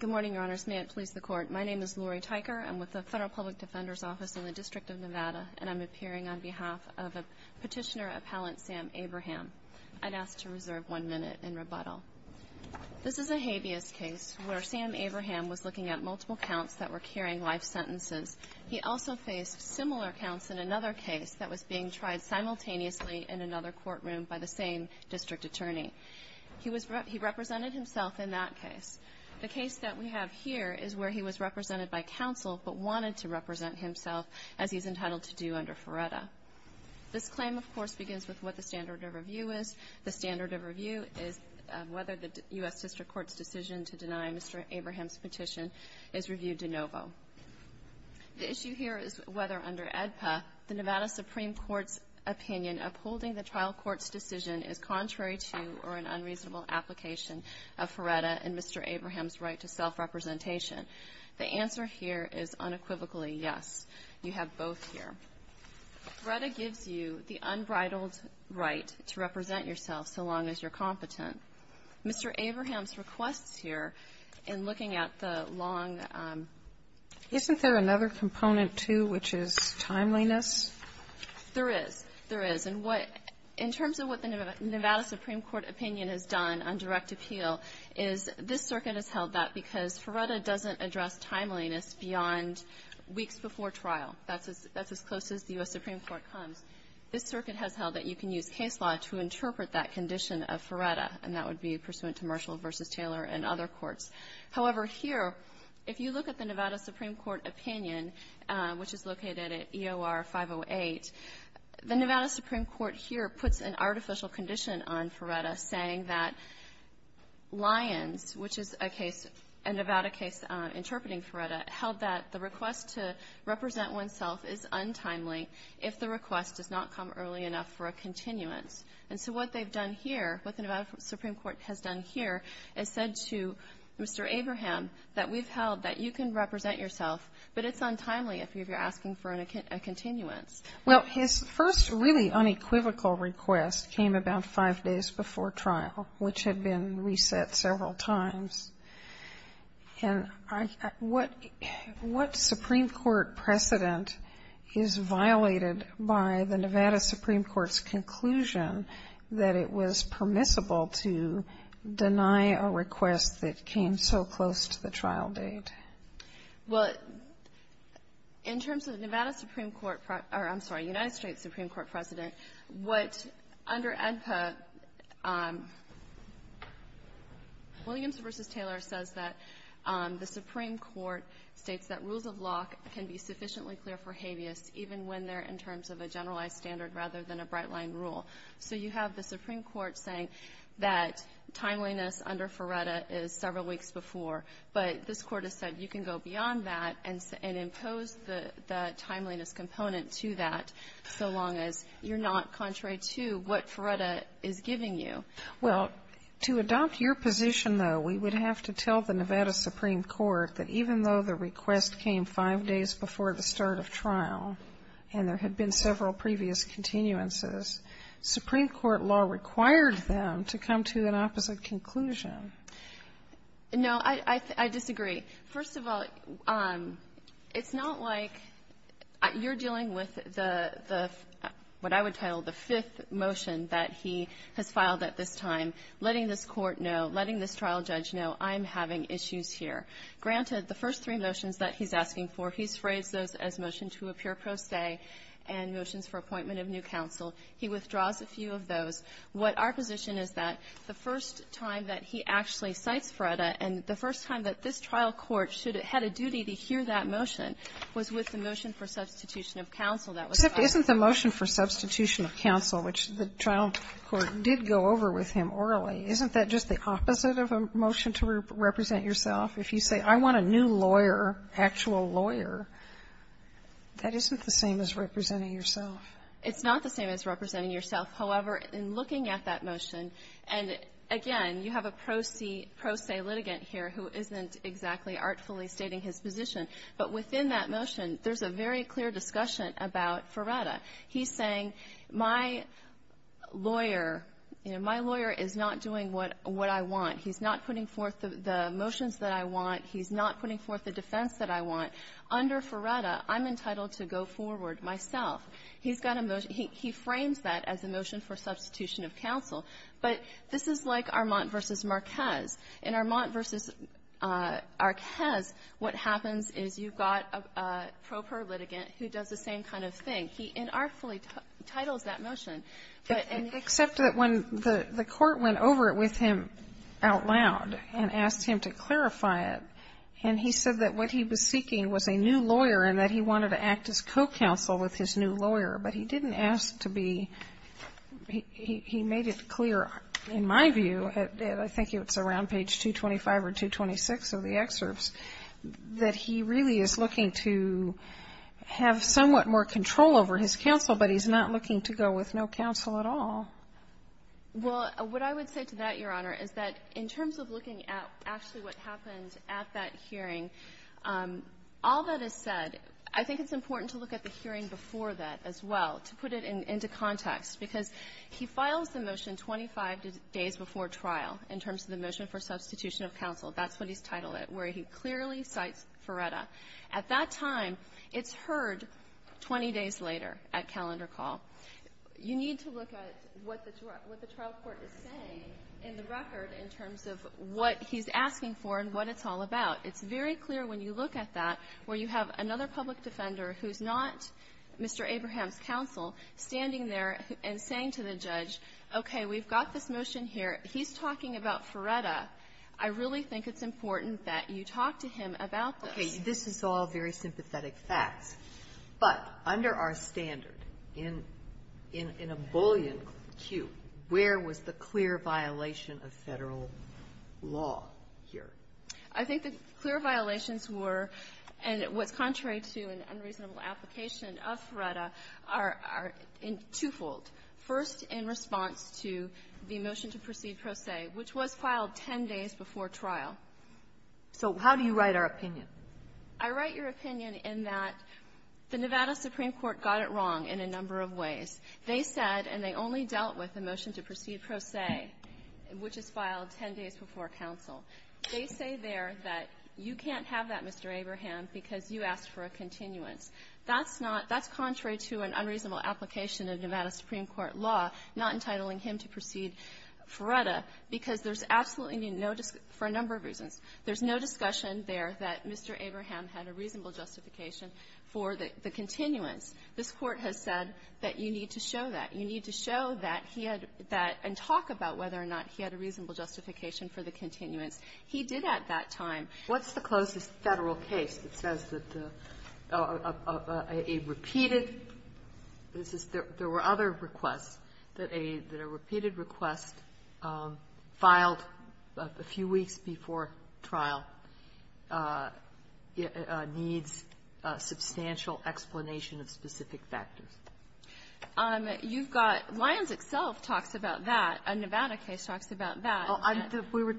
Good morning, Your Honors. May it please the Court, my name is Lori Tyker. I'm with the Federal Public Defender's Office in the District of Nevada, and I'm appearing on behalf of Petitioner Appellant Sam Abraham. I'd ask to reserve one minute in rebuttal. This is a habeas case where Sam Abraham was looking at multiple counts that were carrying life sentences. He also faced similar counts in another case that was being tried simultaneously in another courtroom by the same district attorney. He represented himself in that case. The case that we have here is where he was represented by counsel but wanted to represent himself, as he's entitled to do under Feretta. This claim, of course, begins with what the standard of review is. The standard of review is whether the U.S. District Court's decision to deny Mr. Abraham's petition is reviewed de novo. The issue here is whether, under AEDPA, the Nevada Supreme Court's opinion upholding the trial court's decision is contrary to or an unreasonable application of Feretta and Mr. Abraham's right to self-representation. The answer here is unequivocally yes. You have both here. Feretta gives you the unbridled right to represent yourself so long as you're competent. Mr. Abraham's requests here, in looking at the long ---- Kagan, isn't there another component, too, which is timeliness? There is. There is. And what ---- in terms of what the Nevada Supreme Court opinion has done on direct appeal is this circuit has held that because Feretta doesn't address timeliness beyond weeks before trial. That's as close as the U.S. Supreme Court comes. This circuit has held that you can use case law to interpret that condition of Feretta, and that would be pursuant to Marshall v. Taylor and other courts. However, here, if you look at the Nevada Supreme Court opinion, which is located at EOR 508, the Nevada Supreme Court here puts an artificial condition on Feretta, saying that Lyons, which is a case, a Nevada case interpreting Feretta, held that the request to represent oneself is untimely if the request does not come early enough for a continuance. And so what they've done here, what the Nevada Supreme Court has done here, is said to Mr. Abraham that we've held that you can represent yourself, but it's untimely if you're asking for a continuance. Well, his first really unequivocal request came about five days before trial, which had been reset several times. And what Supreme Court precedent is violated by the Nevada Supreme Court's conclusion that it was permissible to deny a request that came so close to the trial date? Well, in terms of the Nevada Supreme Court, or I'm sorry, United States Supreme Court precedent, what under AEDPA, Williams v. Taylor says that the Supreme Court states that rules of law can be sufficiently clear for habeas even when they're in terms of a generalized standard rather than a bright-line rule. So you have the Supreme Court saying that timeliness under Feretta is several weeks before, but this Court has said you can go beyond that and impose the timeliness component to that so long as you're not contrary to what Feretta is giving you. Well, to adopt your position, though, we would have to tell the Nevada Supreme Court that even though the request came five days before the start of trial and there had been several previous continuances, Supreme Court law required them to come to an opposite conclusion. No, I disagree. First of all, it's not like you're dealing with the what I would title the fifth motion that he has filed at this time, letting this Court know, letting this trial judge know, I'm having issues here. Granted, the first three motions that he's asking for, he's phrased those as motion to appear pro se and motions for appointment of new counsel. He withdraws a few of those. What our position is that the first time that he actually cites Feretta and the first time that this trial court should have had a duty to hear that motion was with the motion for substitution of counsel that was filed. Except isn't the motion for substitution of counsel, which the trial court did go over with him orally, isn't that just the opposite of a motion to represent yourself? If you say, I want a new lawyer, actual lawyer, that isn't the same as representing yourself. It's not the same as representing yourself. However, in looking at that motion, and again, you have a pro se litigant here who isn't exactly artfully stating his position, but within that motion, there's a very clear discussion about Feretta. He's saying, my lawyer, you know, my lawyer is not doing what I want. He's not putting forth the motions that I want. He's not putting forth the defense that I want. Under Feretta, I'm entitled to go forward myself. He's got a motion. He frames that as a motion for substitution of counsel. But this is like Armand v. Marquez. In Armand v. Marquez, what happens is you've got a pro per litigant who does the same kind of thing. He inartfully titles that motion. But in the other case, the court went over it with him out loud and asked him to clarify it. And he said that what he was seeking was a new lawyer and that he wanted to act as co-counsel with his new lawyer. But he didn't ask to be he made it clear, in my view, I think it's around page 225 or 226 of the excerpts, that he really is looking to have somewhat more control over his counsel, but he's not looking to go with no counsel at all. Well, what I would say to that, Your Honor, is that in terms of looking at actually what happened at that hearing, all that is said, I think it's important to look at the hearing before that as well, to put it into context. Because he files the motion 25 days before trial in terms of the motion for substitution of counsel. That's what he's titled it, where he clearly cites Ferretta. At that time, it's heard 20 days later at calendar call. You need to look at what the trial court is saying in the record in terms of what he's asking for and what it's all about. It's very clear when you look at that where you have another public defender who's not Mr. Abraham's counsel standing there and saying to the judge, okay, we've got this motion here. He's talking about Ferretta. I really think it's important that you talk to him about this. Okay. This is all very sympathetic facts. But under our standard, in a bullion queue, where was the clear violation of Federal law here? I think the clear violations were, and what's contrary to an unreasonable application of Ferretta, are twofold. First, in response to the motion to proceed pro se, which was filed 10 days before trial. So how do you write our opinion? I write your opinion in that the Nevada Supreme Court got it wrong in a number of ways. They said, and they only dealt with the motion to proceed pro se, which is filed 10 days before counsel. They say there that you can't have that, Mr. Abraham, because you asked for a continuance. That's not – that's contrary to an unreasonable application of Nevada Supreme Court law not entitling him to proceed Ferretta because there's absolutely no – for a number of reasons. There's no discussion there that Mr. Abraham had a reasonable justification for the continuance. This Court has said that you need to show that. You need to show that he had that and talk about whether or not he had a reasonable justification for the continuance. He did at that time. Kagan. What's the closest Federal case that says that a repeated – this is – there were other requests that a – that a repeated request filed a few weeks before trial needs a substantial explanation of specific factors? You've got – Lyons itself talks about that. A Nevada case talks about that. Oh, I'm – we were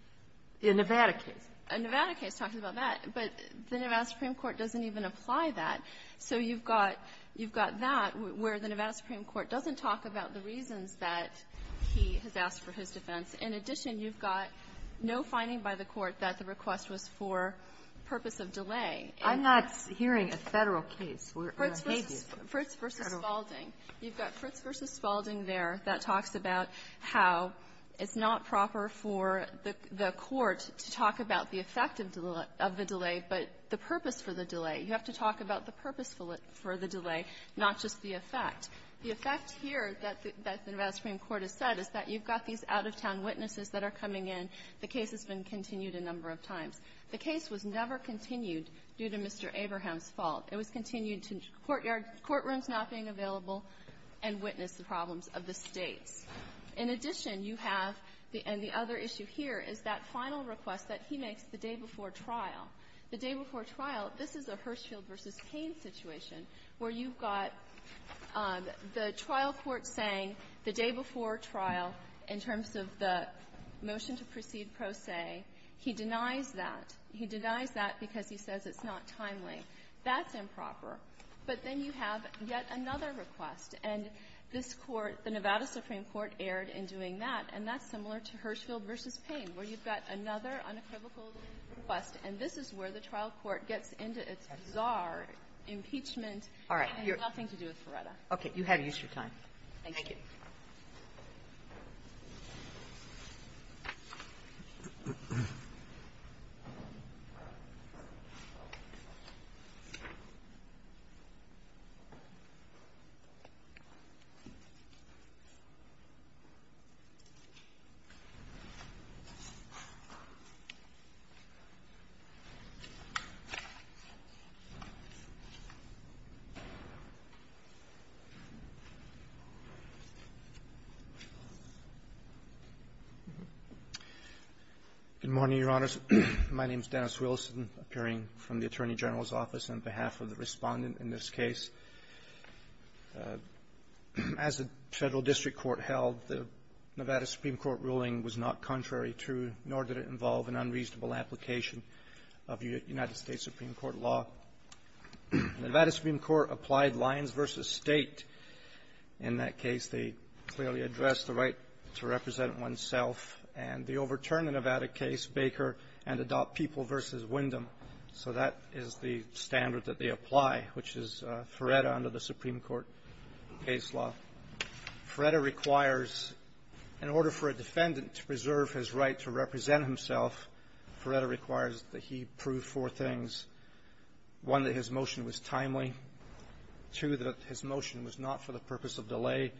– a Nevada case. A Nevada case talks about that. But the Nevada Supreme Court doesn't even apply that. So you've got – you've got that where the Nevada Supreme Court doesn't talk about the reasons that he has asked for his defense. In addition, you've got no finding by the Court that the request was for purpose of delay. I'm not hearing a Federal case. We're going to hate you. Fritz v. Spalding. You've got Fritz v. Spalding there that talks about how it's not proper for the court to talk about the effect of the delay, but the purpose for the delay. You have to talk about the purpose for the delay, not just the effect. The effect here that the Nevada Supreme Court has said is that you've got these out-of-town witnesses that are coming in. The case has been continued a number of times. The case was never continued due to Mr. Abraham's fault. It was continued to courtyards, courtrooms not being available, and witness the problems of the States. In addition, you have the – and the other issue here is that final request that he makes the day before trial. The day before trial, this is a Hirschfeld v. Cain situation where you've got the trial court saying the day before trial, in terms of the motion to proceed pro se, he denies that. He denies that because he says it's not timely. That's improper. But then you have yet another request, and this Court, the Nevada Supreme Court, erred in doing that, and that's similar to Hirschfeld v. Cain, where you've got another unequivocal request, and this is where the trial court gets into its bizarre impeachment. Kagan. And it has nothing to do with Loretta. Kagan. Kagan. Kagan. Kagan. Kagan. Kagan. Kagan. Kagan. Kagan. Kagan. Kagan. Kagan. Kagan. Kagan. Good morning, Your Honors. My name is Dennis Wilson, appearing from the Attorney General's office on behalf of the Respondent in this case. As the Federal District Court held, the Nevada Supreme Court ruling was not contrary to, nor did it involve, an unreasonable application of United States Supreme Court law. The Nevada Supreme Court applied lines v. State. In that case, they clearly addressed the right to represent oneself, and they overturned the Nevada case. Baker and adopt people versus Wyndham. So that is the standard that they apply, which is, Loretta, under the Supreme Court case law. Loretta requires, in order for a defendant to preserve his right to represent himself, Loretta requires that he prove four things. One, that his motion was timely. Two, that his motion was not for the purpose of delay.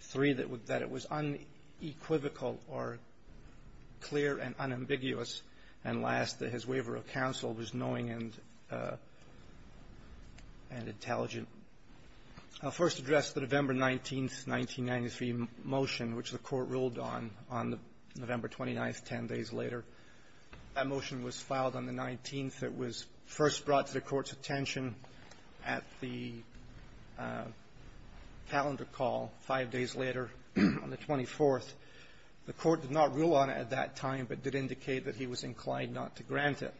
Three, that it was unequivocal or clear and ambiguous. And last, that his waiver of counsel was knowing and intelligent. I'll first address the November 19th, 1993 motion, which the Court ruled on, on November 29th, 10 days later. That motion was filed on the 19th. It was first brought to the Court's attention at the calendar call five days later, on the 24th. The Court did not rule on it at that time, but did indicate that he was inclined not to grant it.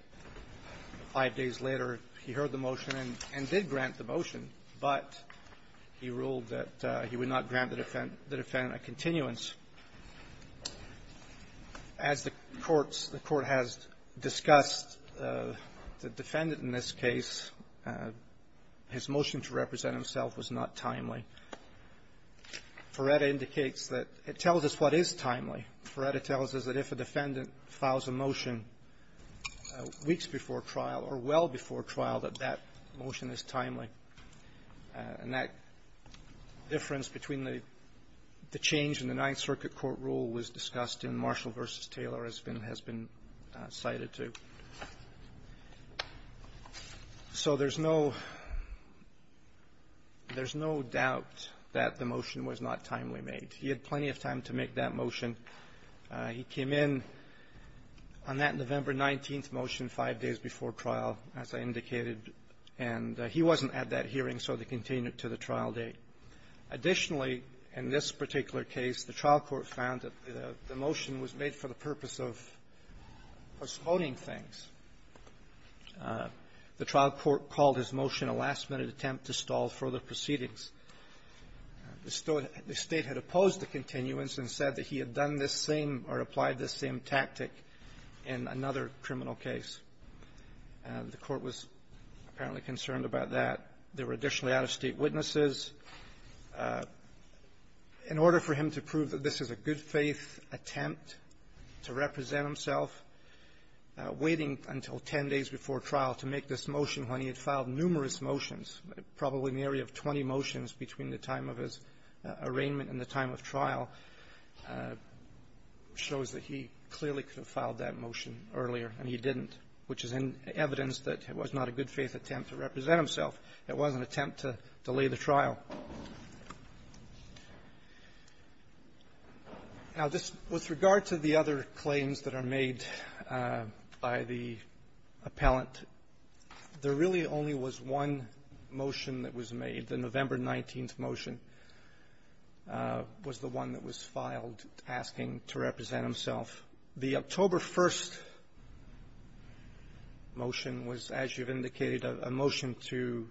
Five days later, he heard the motion and did grant the motion, but he ruled that he would not grant the defendant a continuance. As the courts the Court has discussed, the defendant in this case, his motion to represent himself was not timely. Loretta indicates that it tells us what is timely. Loretta tells us that if a defendant files a motion weeks before trial or well before trial, that that motion is timely. And that difference between the change in the Ninth Circuit Court rule was discussed in Marshall v. Taylor has been cited, too. So there's no doubt that the motion was not timely made. He had plenty of time to make that motion. He came in on that November 19th motion five days before trial, as I indicated. And he wasn't at that hearing, so they continued it to the trial date. Additionally, in this particular case, the trial court found that the motion was made for the purpose of postponing things. The trial court called his motion a last-minute attempt to stall further proceedings. The State had opposed the continuance and said that he had done this same or applied this same tactic in another criminal case. The Court was apparently concerned about that. There were additionally out-of-state witnesses. In order for him to prove that this is a good-faith attempt to represent himself, waiting until ten days before trial to make this motion when he had filed numerous motions, probably in the area of 20 motions between the time of his arraignment and the time of trial, shows that he clearly could have filed that motion earlier, and he didn't, which is evidence that it was not a good-faith attempt to represent himself. It was an attempt to delay the trial. Now, this was with regard to the other claims that are made by the appellant, there really only was one motion that was made. The November 19th motion was the one that was filed asking to represent himself. The October 1st motion was, as you've indicated, a motion to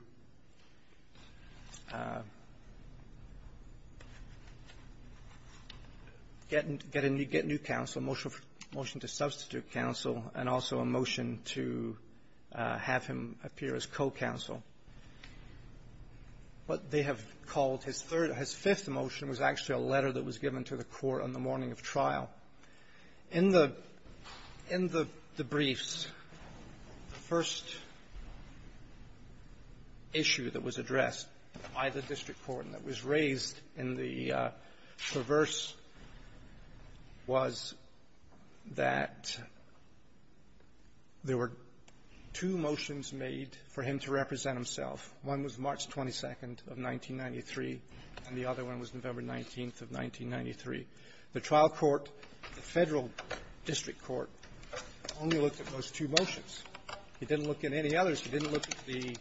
get a new counsel, a motion to substitute counsel, and also a motion to have him appear as co-counsel. What they have called his third or his fifth motion was actually a letter that was In the briefs, the first issue that was addressed by the district court and that was raised in the perverse was that there were two motions made for him to represent himself. One was March 22nd of 1993, and the other one was November 19th of 1993. The trial court, the Federal district court, only looked at those two motions. He didn't look at any others. He didn't look at the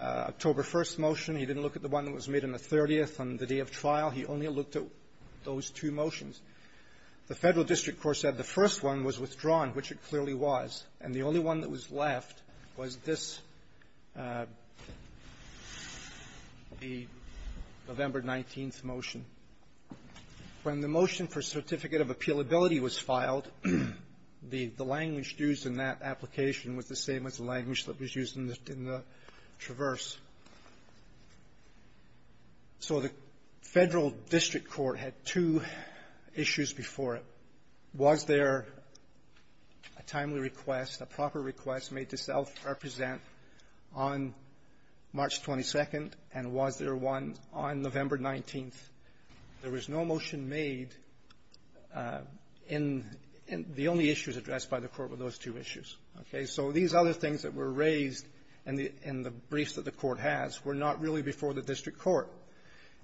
October 1st motion. He didn't look at the one that was made on the 30th on the day of trial. He only looked at those two motions. The Federal district court said the first one was withdrawn, which it clearly was, and the only one that was left was this one, the November 19th motion. When the motion for certificate of appealability was filed, the language used in that application was the same as the language that was used in the traverse. So the Federal district court had two issues before it. Was there a timely request, a proper request made to self-represent himself on March 22nd, and was there one on November 19th? There was no motion made in the only issues addressed by the court with those two issues. Okay? So these other things that were raised in the briefs that the court has were not really before the district court.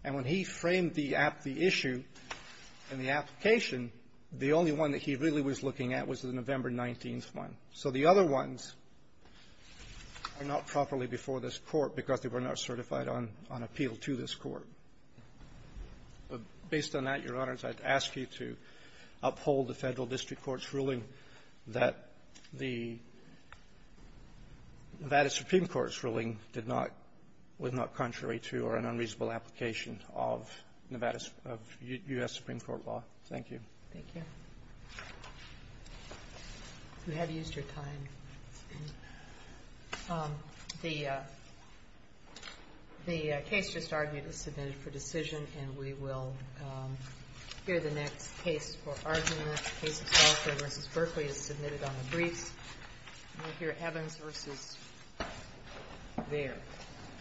And when he framed the issue in the application, the only one that he really was looking at was the November 19th one. So the other ones are not properly before this Court because they were not certified on appeal to this Court. But based on that, Your Honors, I'd ask you to uphold the Federal district court's ruling that the Nevada supreme court's ruling did not was not contrary to or an unreasonable application of Nevada's of U.S. supreme court law. Thank you. Thank you. We have used your time. The case just argued is submitted for decision, and we will hear the next case for argument. Case of Salford v. Berkeley is submitted on the briefs. And we'll hear Evans v. Vare.